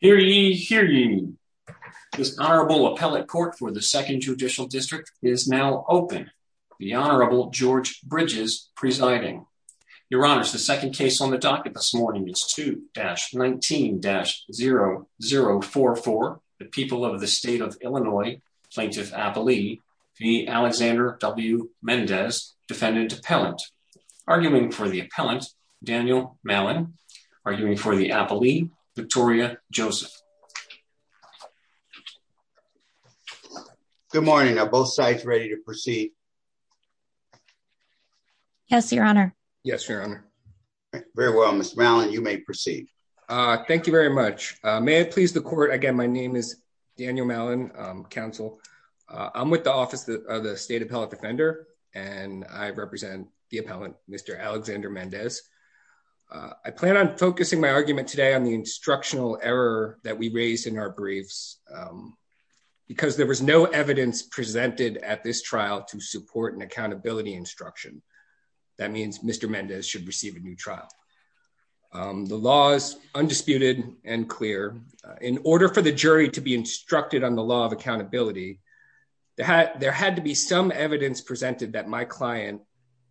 Hear ye, hear ye. This Honorable Appellate Court for the Second Judicial District is now open. The Honorable George Bridges presiding. Your Honors, the second case on the docket this morning is 2-19-0044. The people of the state of Illinois, Plaintiff Appalee v. Alexander W. Mendez, Defendant Appellant. Arguing for the Appellant, Daniel Mallon. Arguing for the Appalee, Victoria Joseph. Good morning. Are both sides ready to proceed? Yes, Your Honor. Yes, Your Honor. Very well, Ms. Mallon, you may proceed. Thank you very much. May it please the Court, again, my name is Daniel Mallon, Counsel. I'm with the Office of the State Appellate Defender, and I represent the Appellant, Mr. Alexander Mendez. I plan on focusing my argument today on the instructional error that we raised in our briefs, because there was no evidence presented at this trial to support an accountability instruction. That means Mr. Mendez should receive a new trial. The law is undisputed and clear. In some evidence presented that my client,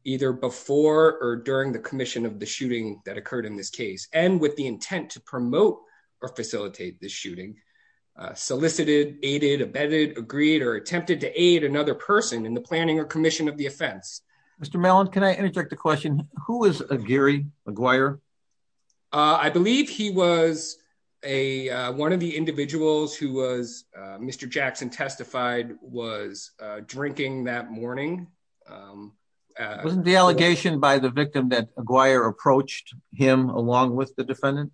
either before or during the commission of the shooting that occurred in this case, and with the intent to promote or facilitate this shooting, solicited, aided, abetted, agreed, or attempted to aid another person in the planning or commission of the offense. Mr. Mallon, can I interject a question? Who was Gary McGuire? I believe he was one of the individuals who was, Mr. Jackson testified, was drinking that morning. Wasn't the allegation by the victim that McGuire approached him along with the defendant?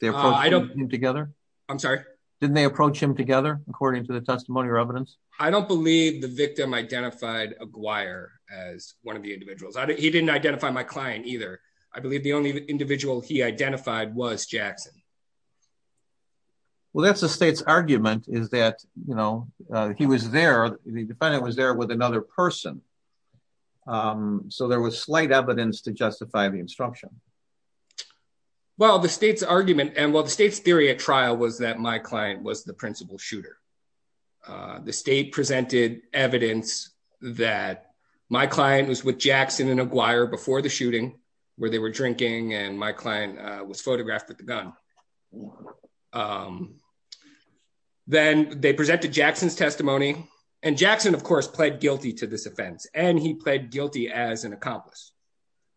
They approached him together? I'm sorry? Didn't they approach him together, according to the testimony or evidence? I don't believe the victim identified McGuire as one of the individuals. He didn't identify my client either. I believe the only individual he identified was Jackson. Well, that's the state's argument is that, you know, he was there, the defendant was there with another person. So there was slight evidence to justify the instruction. Well, the state's argument and what the state's theory at trial was that my client was the shooting, where they were drinking, and my client was photographed with the gun. Then they presented Jackson's testimony. And Jackson, of course, pled guilty to this offense, and he pled guilty as an accomplice.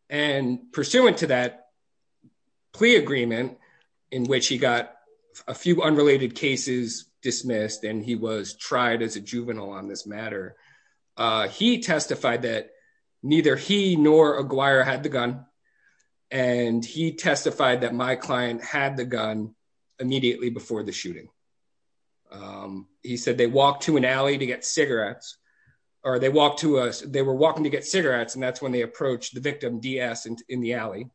And pursuant to that plea agreement, in which he got a few unrelated cases dismissed, and he was tried as a juvenile on this matter, he testified that neither he nor McGuire had the gun. And he testified that my client had the gun immediately before the shooting. He said they walked to an alley to get cigarettes, or they walked to us, they were walking to get cigarettes. And that's when they approached the victim DS in the alley.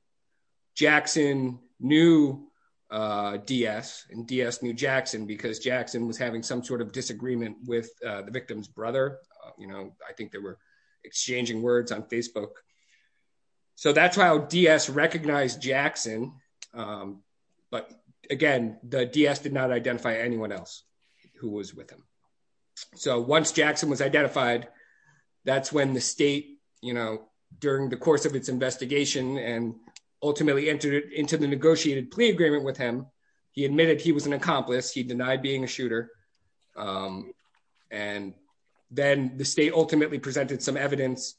Jackson knew DS and DS knew Jackson because Jackson was having some sort of disagreement with the victim's brother. You know, I think they were exchanging words on Facebook. So that's how DS recognized Jackson. But again, the DS did not identify anyone else who was with him. So once Jackson was identified, that's when the state, you know, during the course of its investigation, and ultimately entered into the negotiated plea agreement with him, he admitted he was an accomplice, he denied being a shooter. And then the state ultimately presented some evidence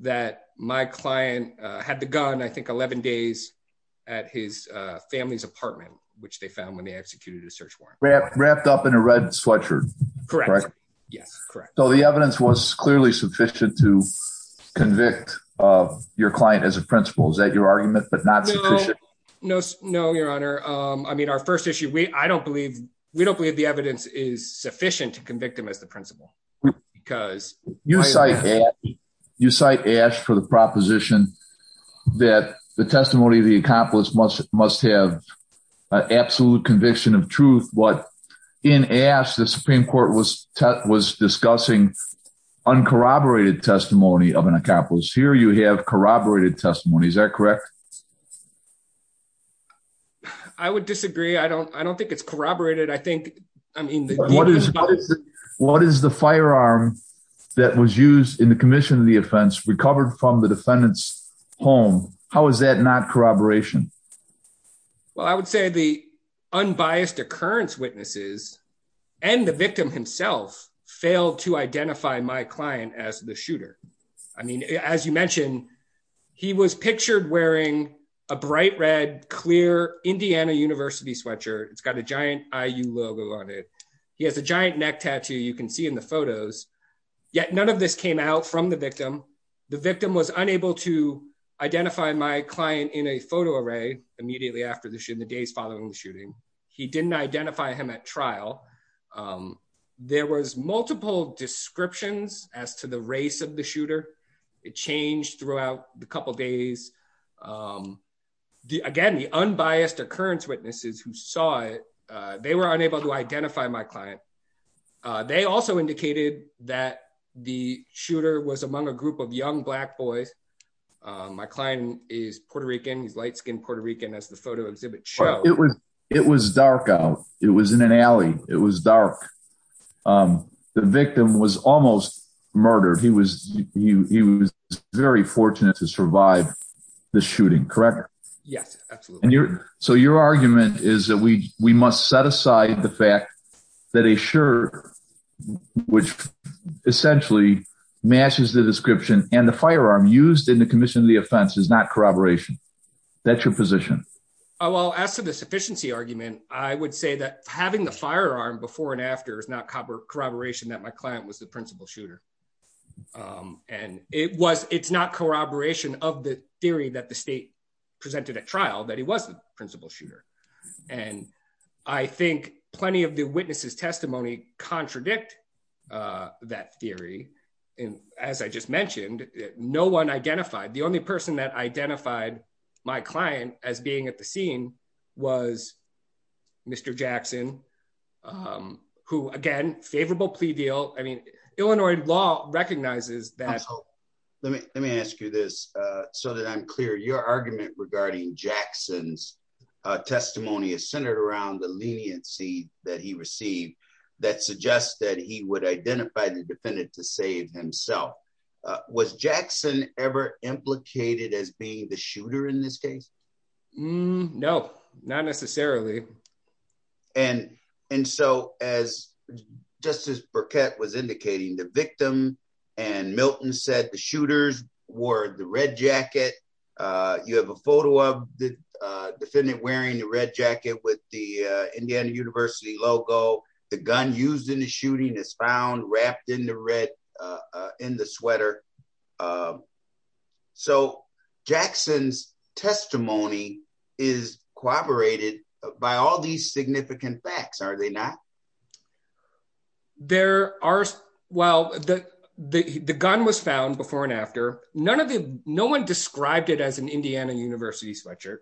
that my client had the gun, I think 11 days at his family's apartment, which they found when they executed a search warrant wrapped up in a red sweatshirt. Correct? Yes, correct. So the evidence was clearly sufficient to convict your client as a principal is that your argument but not? No, no, no, Your Honor. I mean, our first issue we I don't believe we don't believe the evidence is sufficient to convict him as the principal. Because you cite you cite ash for the proposition that the testimony of the accomplice must must have an absolute conviction of truth. But in ash, the Supreme Court was was discussing uncorroborated testimony of an accomplice here you have corroborated testimony. Is that correct? I would disagree. I don't I don't think it's corroborated. I think I mean, what is what is the firearm that was used in the commission of the offense recovered from the defendant's home? How is that not corroboration? Well, I would say the unbiased occurrence witnesses, and the victim himself failed to identify my client as the shooter. I mean, as you mentioned, he was pictured wearing a bright red clear Indiana University sweatshirt. It's got a giant IU logo on it. He has a giant neck tattoo you can see in the photos. Yet none of this came out from the victim. The victim was unable to identify my client in a photo array immediately after the shoot in the days following the shooting. He didn't identify him at trial. There was multiple descriptions as to the of the shooter. It changed throughout the couple days. Again, the unbiased occurrence witnesses who saw it, they were unable to identify my client. They also indicated that the shooter was among a group of young black boys. My client is Puerto Rican. He's light skinned Puerto Rican as the photo exhibit show. It was it was dark out. It was in an alley. It was dark. The victim was almost murdered. He was he was very fortunate to survive the shooting, correct? Yes, absolutely. And you're so your argument is that we we must set aside the fact that a shirt which essentially matches the description and the firearm used in the commission of the offense is not corroboration. That's your position. Well, as to the sufficiency argument, I would say that having the firearm before and after is not copper corroboration that my client was the shooter. And it was it's not corroboration of the theory that the state presented at trial that he was the principal shooter. And I think plenty of the witnesses testimony contradict that theory. And as I just mentioned, no one identified the only person that identified my client as being at scene was Mr. Jackson, who, again, favorable plea deal. I mean, Illinois law recognizes that. Let me let me ask you this so that I'm clear your argument regarding Jackson's testimony is centered around the leniency that he received that suggests that he would identify the defendant to save himself. Was Jackson ever implicated as being the shooter in this case? No, not necessarily. And and so as Justice Burkett was indicating the victim and Milton said the shooters wore the red jacket. You have a photo of the defendant wearing the red jacket with the in the sweater. So Jackson's testimony is corroborated by all these significant facts, are they not? There are. Well, the the gun was found before and after none of the no one described it as an Indiana University sweatshirt.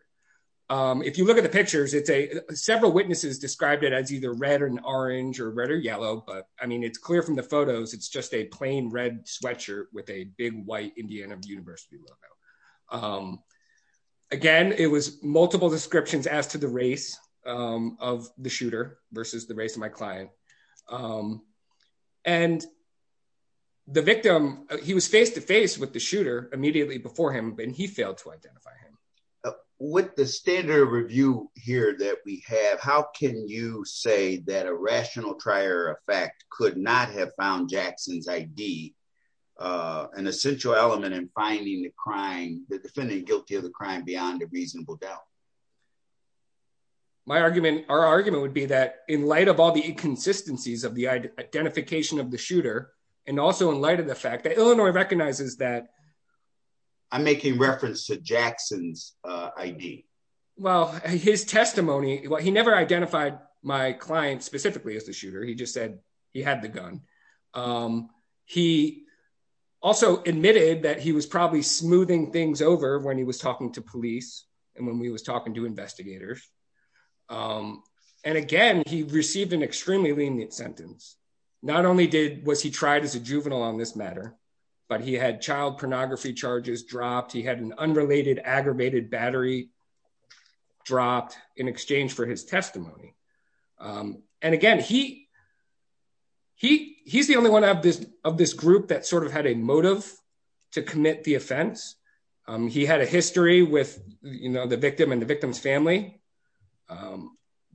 If you look at the pictures, it's a several witnesses described it as either red and orange or red or yellow. But I mean, it's clear from the photos it's just a plain red sweatshirt with a big white Indiana University logo. Again, it was multiple descriptions as to the race of the shooter versus the race of my client. And. The victim, he was face to face with the shooter immediately before him, and he failed to identify him with the standard review here that we have. How can you say that rational trier effect could not have found Jackson's ID an essential element in finding the crime, the defendant guilty of the crime beyond a reasonable doubt? My argument, our argument would be that in light of all the inconsistencies of the identification of the shooter and also in light of the fact that Illinois recognizes that. I'm making reference to Jackson's ID. Well, his testimony, he never identified my client specifically as the shooter. He just said he had the gun. He also admitted that he was probably smoothing things over when he was talking to police and when we was talking to investigators. And again, he received an extremely lenient sentence. Not only did was he tried as a juvenile on this matter, but he had child pornography charges dropped. He had an again, he. He he's the only one of this of this group that sort of had a motive to commit the offense. He had a history with the victim and the victim's family.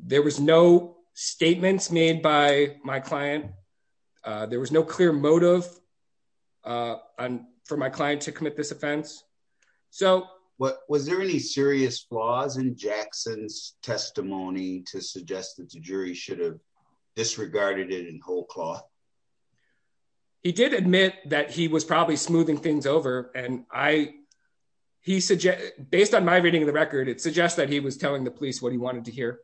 There was no statements made by my client. There was no clear motive. For my client to commit this offense. So what was there any serious flaws in Jackson's testimony that would suggest that the jury should have disregarded it in whole cloth? He did admit that he was probably smoothing things over and I. He said, based on my reading of the record, it suggests that he was telling the police what he wanted to hear.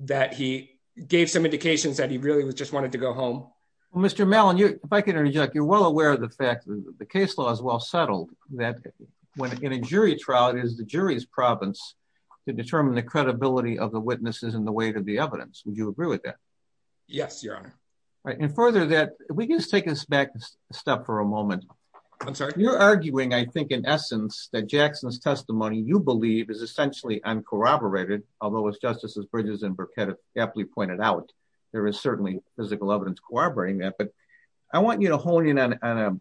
That he gave some indications that he really was just wanted to go home. Mr. Mellon, if I can interject, you're well aware of the fact that the case law is well settled that when in a jury trial, it is the jury's province to determine the credibility of the witnesses and the weight of the evidence. Would you agree with that? Yes, your honor. Right. And further that we can just take this back step for a moment. I'm sorry. You're arguing, I think, in essence, that Jackson's testimony you believe is essentially uncorroborated, although it's justices Bridges and Burkett aptly pointed out. There is certainly physical evidence corroborating that, but I want you to hone in on a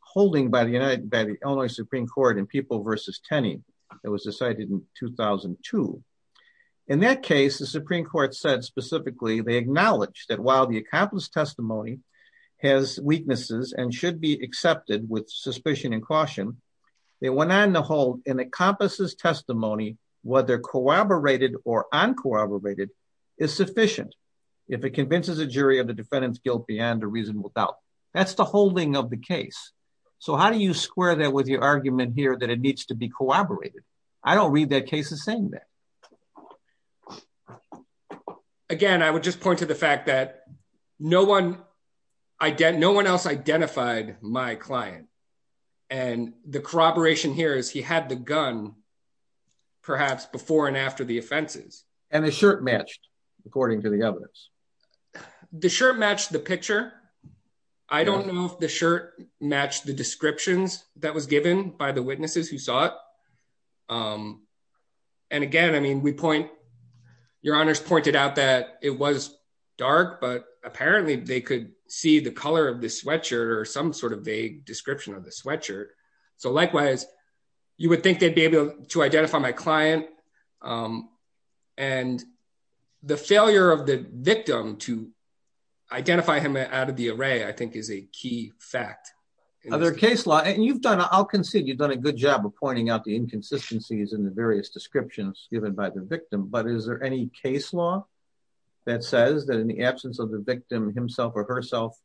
holding by the United by the Illinois Supreme Court in People versus Tenney. It was decided in 2002. In that case, the Supreme Court said specifically, they acknowledge that while the accomplice testimony has weaknesses and should be accepted with suspicion and caution, they went on to hold an accomplices testimony, whether corroborated or uncorroborated is sufficient. If it convinces a jury of the defendant's guilt beyond a reasonable doubt, that's the holding of the case. So how do you square that with your argument here that it needs to be corroborated? I don't read that case as saying that. Again, I would just point to the fact that no one, no one else identified my client. And the corroboration here is he had the gun, perhaps before and after the offenses. And the shirt matched, according to the evidence. The shirt matched the picture. I don't know if the shirt matched the descriptions that was given by the witnesses who saw it. And again, I mean, we point your honors pointed out that it was dark, but apparently they could see the color of the sweatshirt or some sort of vague description of the sweatshirt. So likewise, you would think they'd be able to identify my client. And the failure of the victim to identify him out of the array, I think is a key fact. Other case law, and you've done, I'll concede you've done a good job of pointing out the inconsistencies in the various descriptions given by the victim. But is there any case law that says that in the absence of the victim himself or herself,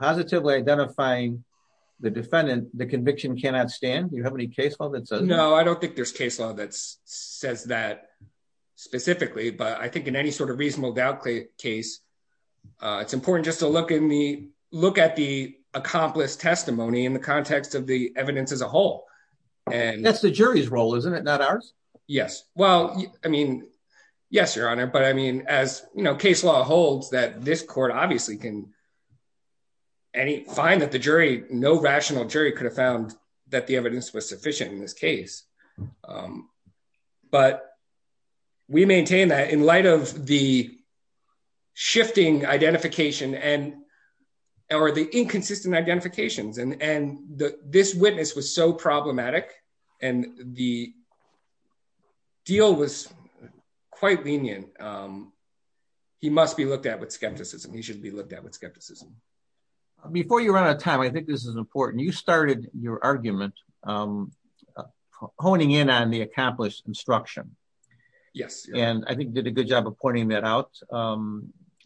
positively identifying the defendant, the conviction cannot stand? Do you have any case law that says? No, I don't think there's case law that says that specifically, but I think in any sort of reasonable doubt case, it's important just to look in the look at the accomplished testimony in the context of the evidence as a whole. And that's the jury's role, isn't it? Not ours? Yes. Well, I mean, yes, your honor. But I mean, as you know, case law holds that this court obviously can find that the jury, no rational jury could have found that the evidence was sufficient in this case. But we maintain that in light of the shifting identification and, or the inconsistent identifications, and this witness was so problematic, and the deal was quite lenient. He must be looked at with skepticism, he should be looked at with skepticism. Before you run out of time, I think this is important. You started your argument, honing in on the accomplished instruction. Yes. And I think did a good job of pointing that out.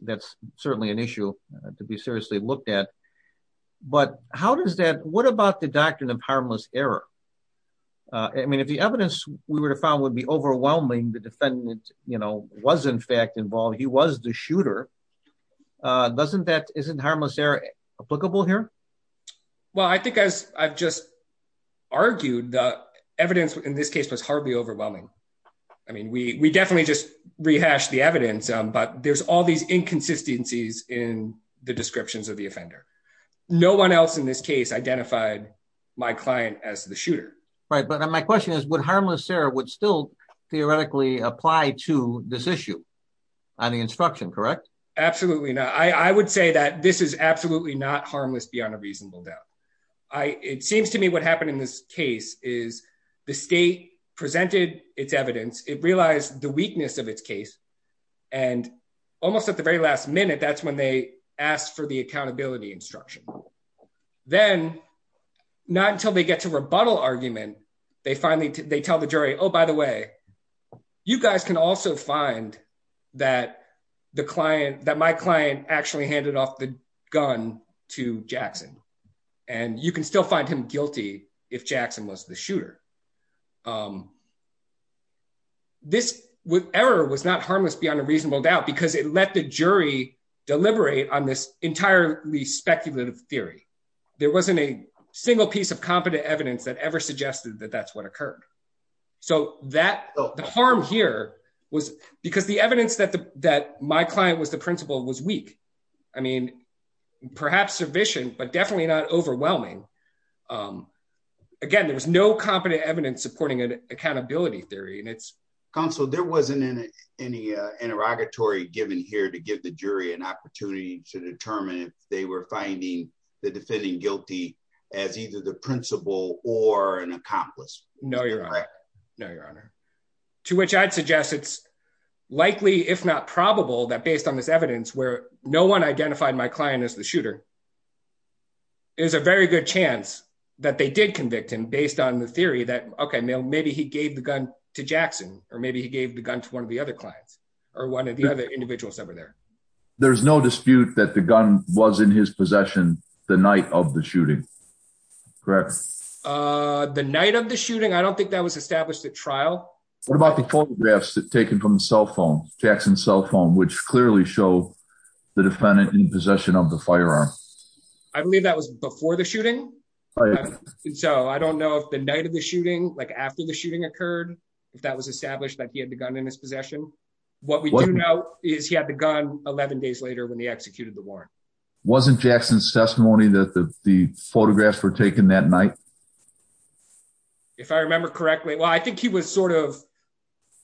That's certainly an issue to be seriously looked at. But how does that what about the doctrine of harmless error? I mean, if the evidence we would have found would be overwhelming, the defendant, you know, was in fact involved, he was the shooter. Doesn't that isn't harmless error applicable here? Well, I think as I've just argued that evidence in this case was hardly overwhelming. I mean, we definitely just rehash the evidence. But there's all these inconsistencies in the descriptions of the offender. No one else in this case identified my client as the shooter. Right. But my question is, would harmless error would still theoretically apply to this issue? On the instruction, correct? Absolutely not. I would say that this is absolutely not harmless beyond a reasonable doubt. I it seems to me what happened in this case is the state presented its evidence, it realized the weakness of its case. And almost at the very last minute, that's when they asked for the accountability instruction. Then, not until they get to rebuttal argument, they finally they tell the jury, oh, by the way, you guys can also find that the client that my client actually handed off the gun to Jackson. And you can still find him guilty if Jackson was the shooter. This with error was not harmless beyond a reasonable doubt, because it let the jury deliberate on this entirely speculative theory. There wasn't a single piece of competent evidence that ever suggested that that's what occurred. So that the harm here was because the evidence that the that my client was the principal was weak. I mean, perhaps submission, but definitely not overwhelming. Again, there was no competent evidence supporting an accountability theory. Counsel, there wasn't any interrogatory given here to give the jury an opportunity to determine if they were finding the defending guilty as either the principal or an accomplice. No, your honor. No, your honor. To which I'd suggest it's likely if not probable that based on this evidence where no one identified my client as the shooter is a very good chance that they did convict him based on the theory that okay, maybe he gave the gun to Jackson, or maybe he gave the gun to one of the other clients, or one of the other individuals over there. There's no dispute that the gun was in his possession the night of the shooting. Correct. The night of the shooting. I don't think that was established at trial. What about the photographs taken from cell phone Jackson cell phone, which clearly show the defendant in possession of the firearm? I believe that was before the shooting. So I don't know if the night of the shooting, like after the shooting occurred, if that was established that he had the gun in his possession. What we do know is he had the gun 11 days later when he executed the warrant. Wasn't Jackson's testimony that the photographs were taken that night? If I remember correctly, well, I think he was sort of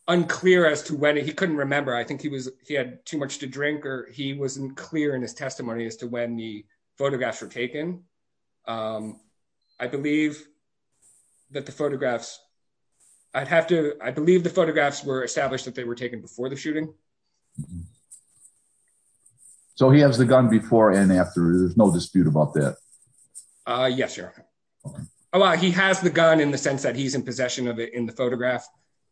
unclear as to when he couldn't remember. I think he was he had too much to drink or he wasn't clear in his testimony as to when the photographs were taken. I believe that the photographs I'd have to I believe the photographs were established that they were taken before the shooting. So he has the gun before and after. There's no dispute about that. Yes, sir. Well, he has the gun in the sense that he's in possession of it in the photograph.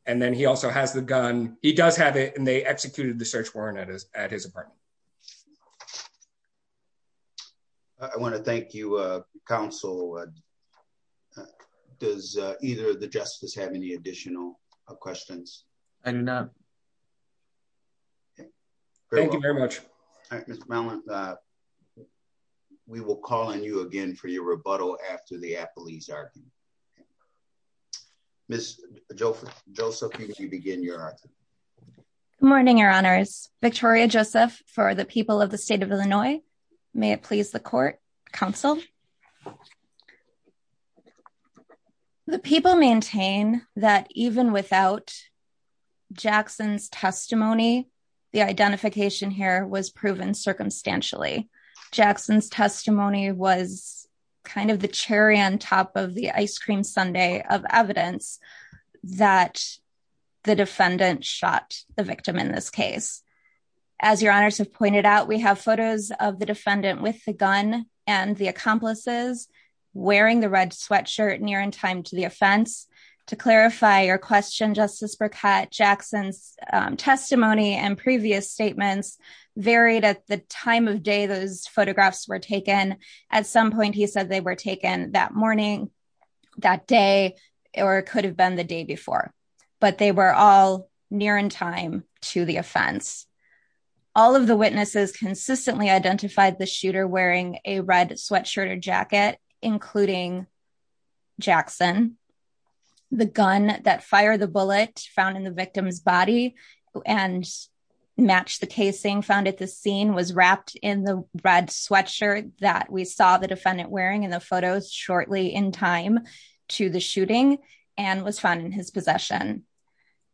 And then he also has the gun. He does have it and they executed the search warrant at his apartment. I want to thank you, counsel. Does either of the justices have any additional questions? I do not. Thank you very much. We will call on you again for your rebuttal after the appellee's argument. Ms. Joseph, would you begin your argument? Good morning, Your Honors. Victoria Joseph for the people of the state of Illinois. May it please the court, counsel. The people maintain that even without Jackson's testimony, the identification here was proven circumstantially. Jackson's testimony was kind of the cherry on top of the ice cream sundae of evidence that the defendant shot the victim in this case. As Your Honors have pointed out, we have photos of the defendant with the gun and the accomplices wearing the red sweatshirt near in time to the offense. To clarify your question, Justice Burkett, Jackson's testimony and previous statements varied at the time of day those photographs were taken. At some point, he said they were taken that morning, that day, or it could have been the day before. But they were all near in time to the offense. All of the witnesses consistently identified the shooter wearing a red sweatshirt or jacket, including Jackson. The gun that fired the bullet found in the victim's body and matched the casing found at the scene was wrapped in the red sweatshirt that we saw the defendant wearing in the photos shortly in time to the shooting and was found in his possession.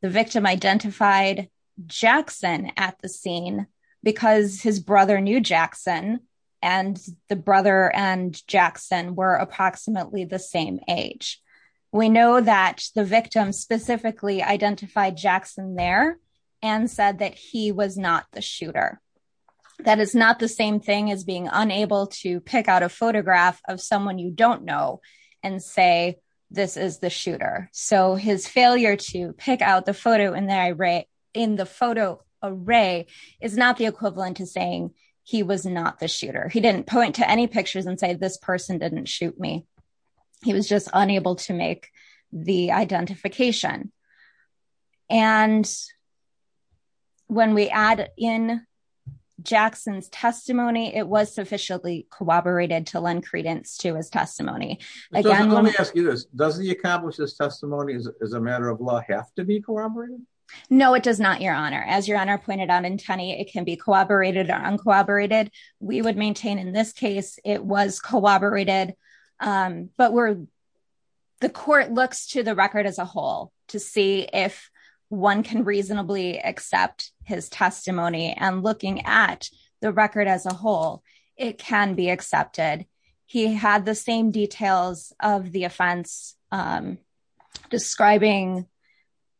The victim identified Jackson at the scene because his brother knew Jackson and the brother and Jackson were approximately the same age. We know that the victim specifically identified Jackson there and said that he was not the shooter. That is not the same thing as being unable to pick out a photograph of someone you don't know and say this is the shooter. So his failure to pick out the photo in the photo array is not the equivalent to saying he was not the shooter. He didn't point any pictures and say this person didn't shoot me. He was just unable to make the identification. And when we add in Jackson's testimony, it was sufficiently corroborated to lend credence to his testimony. Let me ask you this. Does he accomplish his testimony as a matter of law have to be corroborated? No, it does not, Your Honor. As Your Honor pointed out in Tunney, it can be corroborated or uncorroborated. We would maintain in this case it was corroborated, but the court looks to the record as a whole to see if one can reasonably accept his testimony. And looking at the record as a whole, it can be accepted. He had the same details of the offense describing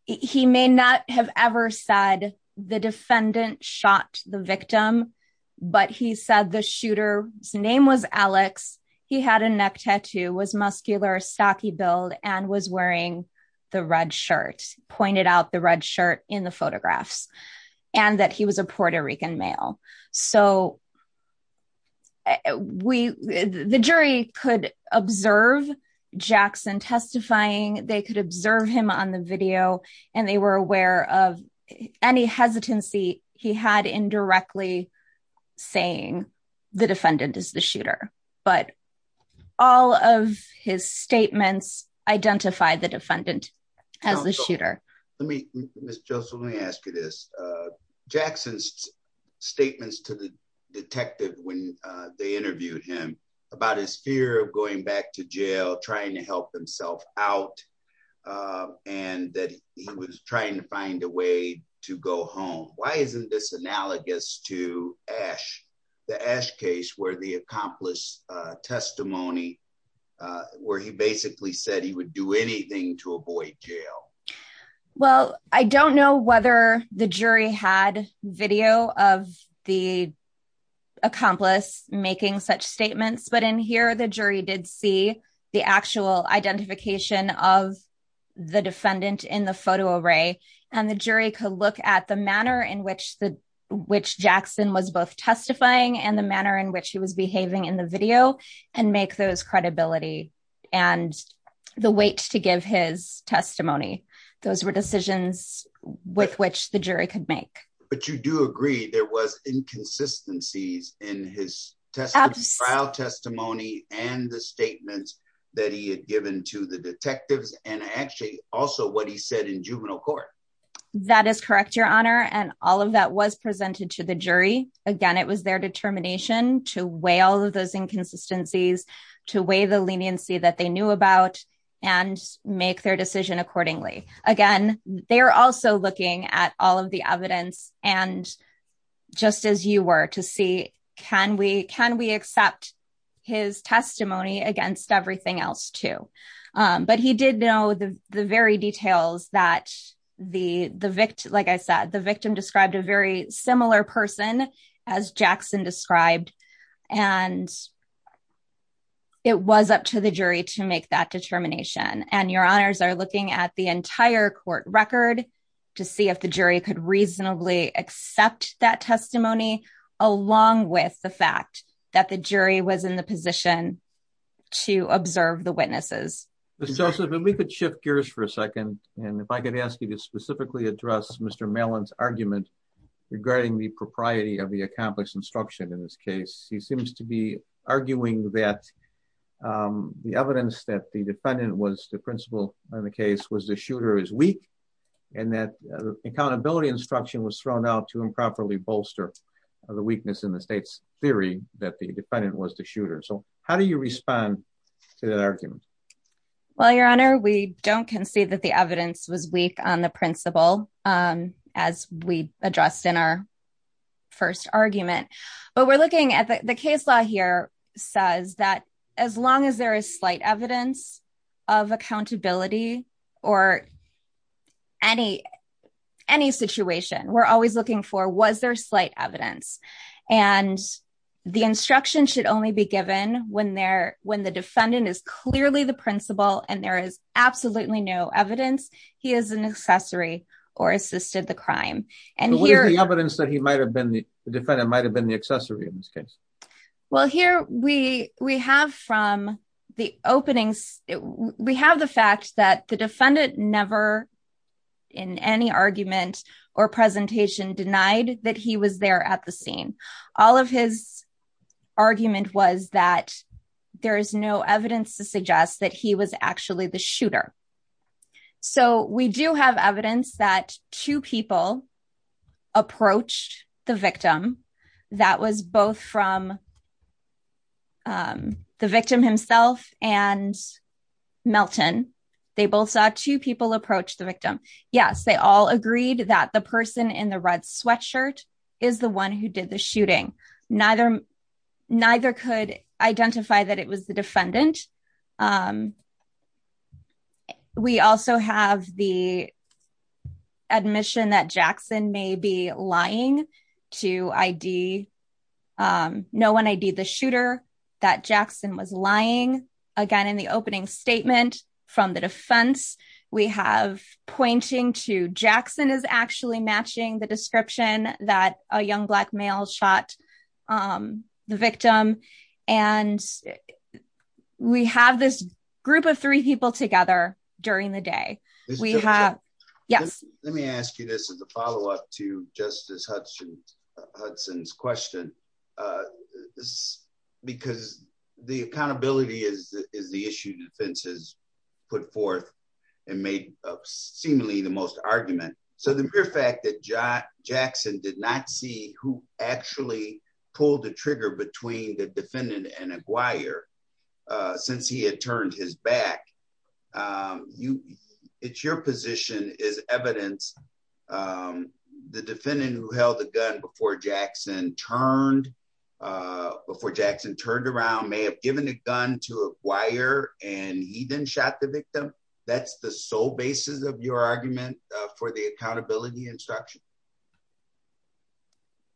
he may not have ever said the defendant shot the victim, but he said the shooter's name was Alex. He had a neck tattoo, was muscular, stocky build, and was wearing the red shirt, pointed out the red shirt in the photographs, and that he was a Puerto Rican male. So we, the jury could observe Jackson testifying, they could observe him on the video, and they were aware of any hesitancy he had indirectly saying the defendant is the shooter. But all of his statements identify the defendant as the shooter. Let me, Ms. Joseph, let me ask you this. Jackson's statements to the detective when they interviewed him about his fear of going back to jail, trying to help himself out, and that he was trying to find a way to go home. Why isn't this analogous to Ash, the Ash case where the accomplice testimony, where he basically said he would do anything to avoid jail? Well, I don't know whether the jury had video of the accomplice making such statements, but in here the jury did see the actual identification of the defendant in the photo array, and the jury could look at the manner in which the, which Jackson was both testifying and the manner in which he was behaving in the video, and make those credibility, and the weight to give his testimony. Those were decisions with which the jury could make. But you do agree there was inconsistencies in his trial testimony and the statements that he had given to the detectives, and actually also what he said in juvenile court. That is correct, Your Honor, and all of that was presented to the jury. Again, it was their determination to weigh all of those inconsistencies, to weigh the leniency that they knew about, and make their decision accordingly. Again, they're also looking at all of the evidence and just as you were to see, can we accept his testimony against everything else too? But he did know the very details that the victim, like I said, the victim described a very similar person as Jackson described, and it was up to the jury to make that determination. And Your Honors are looking at the entire court record to see if the jury could reasonably accept that testimony, along with the fact that the jury was in the position to observe the witnesses. Mr. Joseph, if we could shift gears for a second, and if I could ask you to specifically address Mr. Mellon's argument regarding the propriety of the accomplished instruction in this case. He seems to be arguing that the evidence that the defendant was the principal in the case was the shooter is weak, and that accountability instruction was thrown out to improperly bolster the weakness in the state's theory that the defendant was the shooter. So how do you respond to that argument? Well, Your Honor, we don't concede that the evidence was weak on the principle. As we addressed in our first argument, but we're looking at the case law here says that as long as there is slight evidence of accountability or any situation, we're always looking for was there slight evidence. And the instruction should only be given when the defendant is clearly the And what is the evidence that he might have been the defendant might have been the accessory in this case? Well, here we we have from the openings. We have the fact that the defendant never in any argument or presentation denied that he was there at the scene. All of his argument was that there is no evidence to suggest that he was actually the shooter. So we do have evidence that two people approached the victim that was both from the victim himself and Melton. They both saw two people approach the victim. Yes, they all agreed that the person in the red sweatshirt is the one who did the shooting. Neither could identify that was the defendant. We also have the admission that Jackson may be lying to ID. No one ID the shooter that Jackson was lying. Again, in the opening statement from the defense, we have pointing to Jackson is actually matching the description that a young black male shot the we have this group of three people together during the day. We have. Yes, let me ask you. This is a follow up to Justice Hudson Hudson's question. This because the accountability is the issue defenses put forth and made seemingly the most argument. So the mere fact that since he had turned his back, you it's your position is evidence. The defendant who held a gun before Jackson turned before Jackson turned around, may have given a gun to acquire and he then shot the victim. That's the sole basis of your argument for the accountability instruction.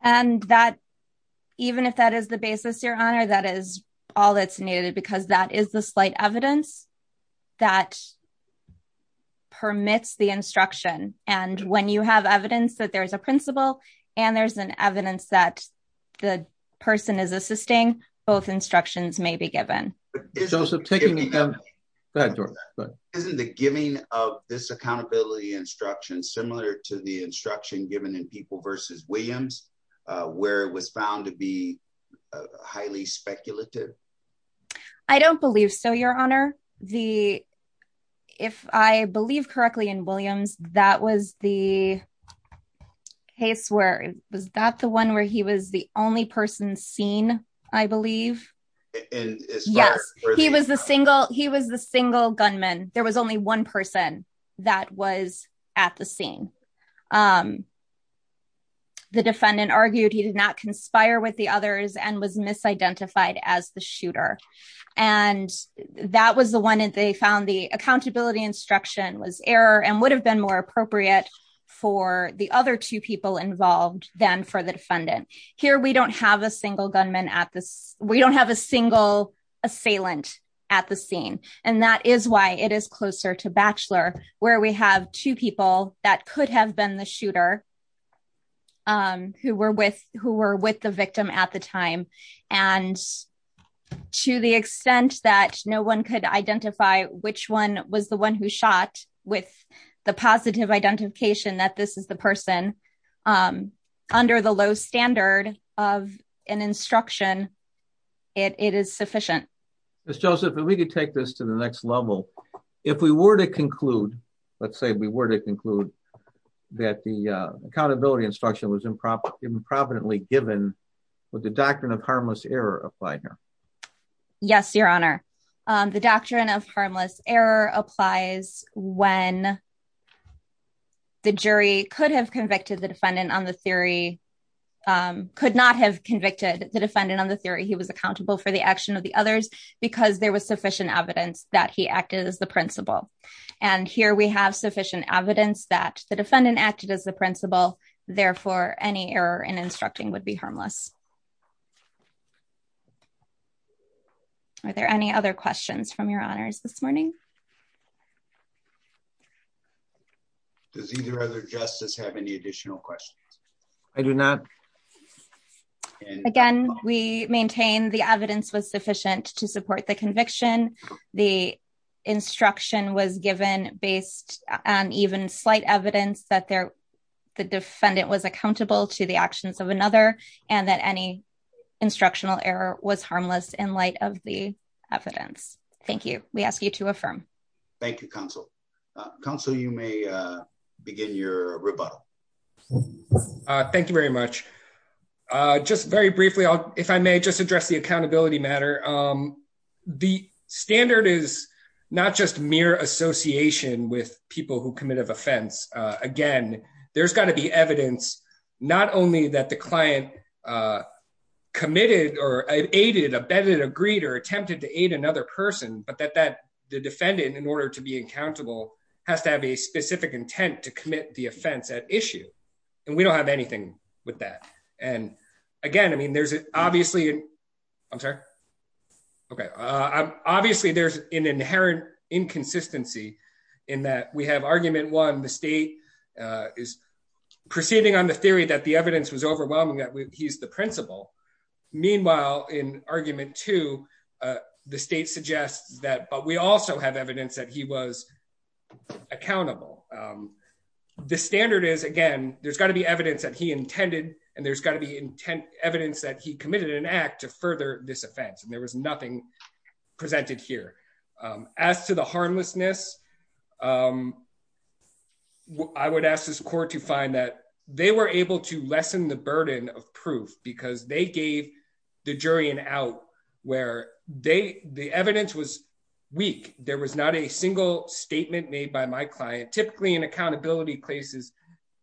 And that even if that is the basis, your honor, that is all that's needed, because that is the slight evidence that permits the instruction. And when you have evidence that there is a principle and there's an evidence that the person is assisting, both instructions may be given. Joseph taking that door, but isn't the giving of this accountability instruction similar to the instruction given in people versus Williams, where it was found to be highly speculative? I don't believe so, your honor. The if I believe correctly in Williams, that was the case where it was that the one where he was the only person seen, I believe. And yes, he was the single gunman. There was only one person that was at the scene. The defendant argued he did not conspire with the others and was misidentified as the shooter. And that was the one that they found the accountability instruction was error and would have been more appropriate for the other two people involved than for the defendant. Here, we don't have a single gunman at this. We don't have a single assailant at the scene. And that is why it is closer to bachelor where we have two people that could have been the shooter who were with who were with the victim at the time. And to the extent that no one could identify which one was the one who shot with the positive identification that this is the person under the low standard of an instruction, it is sufficient. Joseph, and we could take this to the next level. If we were to conclude, let's say we were to conclude that the accountability instruction was improper improperly given with the doctrine of harmless error applies when the jury could have convicted the defendant on the theory could not have convicted the defendant on the theory he was accountable for the action of the others because there was sufficient evidence that he acted as the principal. And here we have sufficient evidence that the defendant acted as the principal. Therefore, any error in instructing be harmless. Are there any other questions from your honors this morning? Does either other justice have any additional questions? I do not. Again, we maintain the evidence was sufficient to support the conviction. The instruction was given based on even slight evidence that they're the defendant was accountable to the actions of and that any instructional error was harmless in light of the evidence. Thank you. We ask you to affirm. Thank you, counsel. Counsel, you may begin your rebuttal. Thank you very much. Just very briefly, if I may just address the accountability matter. The standard is not just mere association with people who commit an offense. Again, there's got to be evidence, not only that the client committed or aided, abetted, agreed or attempted to aid another person, but that that the defendant, in order to be accountable, has to have a specific intent to commit the offense at issue. And we don't have anything with that. And again, I mean, there's obviously I'm sorry. Okay. Obviously, there's an inherent inconsistency in that we argument one, the state is proceeding on the theory that the evidence was overwhelming, that he's the principal. Meanwhile, in argument two, the state suggests that but we also have evidence that he was accountable. The standard is again, there's got to be evidence that he intended and there's got to be evidence that he committed an act to further this offense and there was presented here. As to the harmlessness, I would ask this court to find that they were able to lessen the burden of proof because they gave the jury an out where they the evidence was weak. There was not a single statement made by my client. Typically, in accountability cases,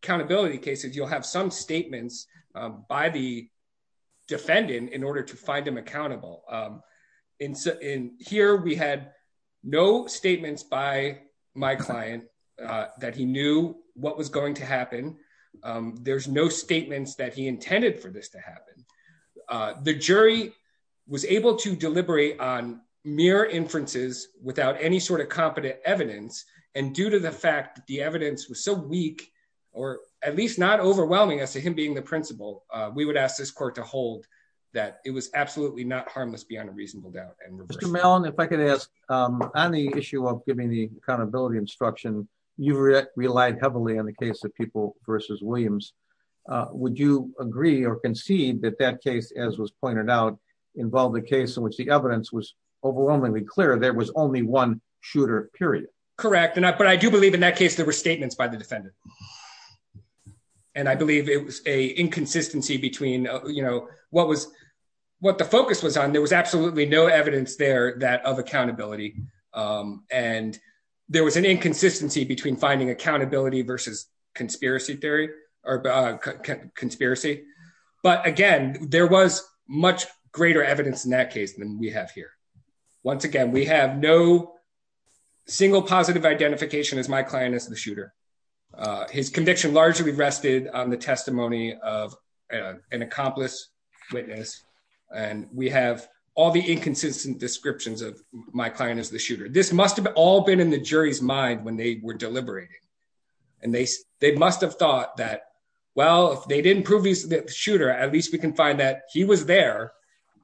accountability cases, you'll have some statements by the defendant in order to find them accountable. In here, we had no statements by my client, that he knew what was going to happen. There's no statements that he intended for this to happen. The jury was able to deliberate on mere inferences without any sort of competent evidence. And due to the fact the evidence was so weak, or at least not overwhelming as to him being the principal, we would ask this court to Mr. Mellon, if I could ask, on the issue of giving the accountability instruction, you've relied heavily on the case of people versus Williams. Would you agree or concede that that case as was pointed out, involve the case in which the evidence was overwhelmingly clear there was only one shooter period? Correct. And I but I do believe in that case, there were statements by the defendant. And I believe it was a inconsistency between, you know, what was what the focus was on, there was absolutely no evidence there that of accountability. And there was an inconsistency between finding accountability versus conspiracy theory, or conspiracy. But again, there was much greater evidence in that case than we have here. Once again, we have no single positive identification as my client is the shooter. His conviction largely rested on the testimony of an accomplice witness. And we have all the inconsistent descriptions of my client is the shooter, this must have all been in the jury's mind when they were deliberating. And they, they must have thought that, well, if they didn't prove he's the shooter, at least we can find that he was there.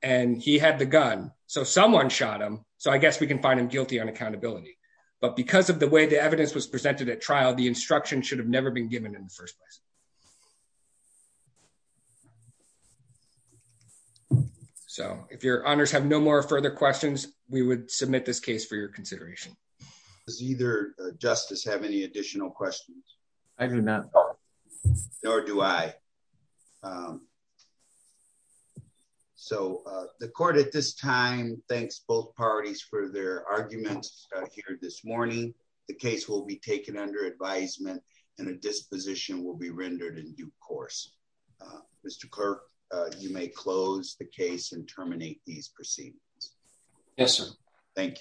And he had the gun, so someone shot him. So I guess we can find him guilty on accountability. But because of the way the evidence was presented at trial, the instruction should have never been given in the first place. So if your honors have no more further questions, we would submit this case for your consideration. Does either justice have any additional questions? Nor do I. So the court at this time, thanks both parties for their arguments here this morning, the case will be taken under advisement and a disposition will be rendered in due course. Mr. Kirk, you may close the case and terminate these proceedings. Yes, sir. Thank you.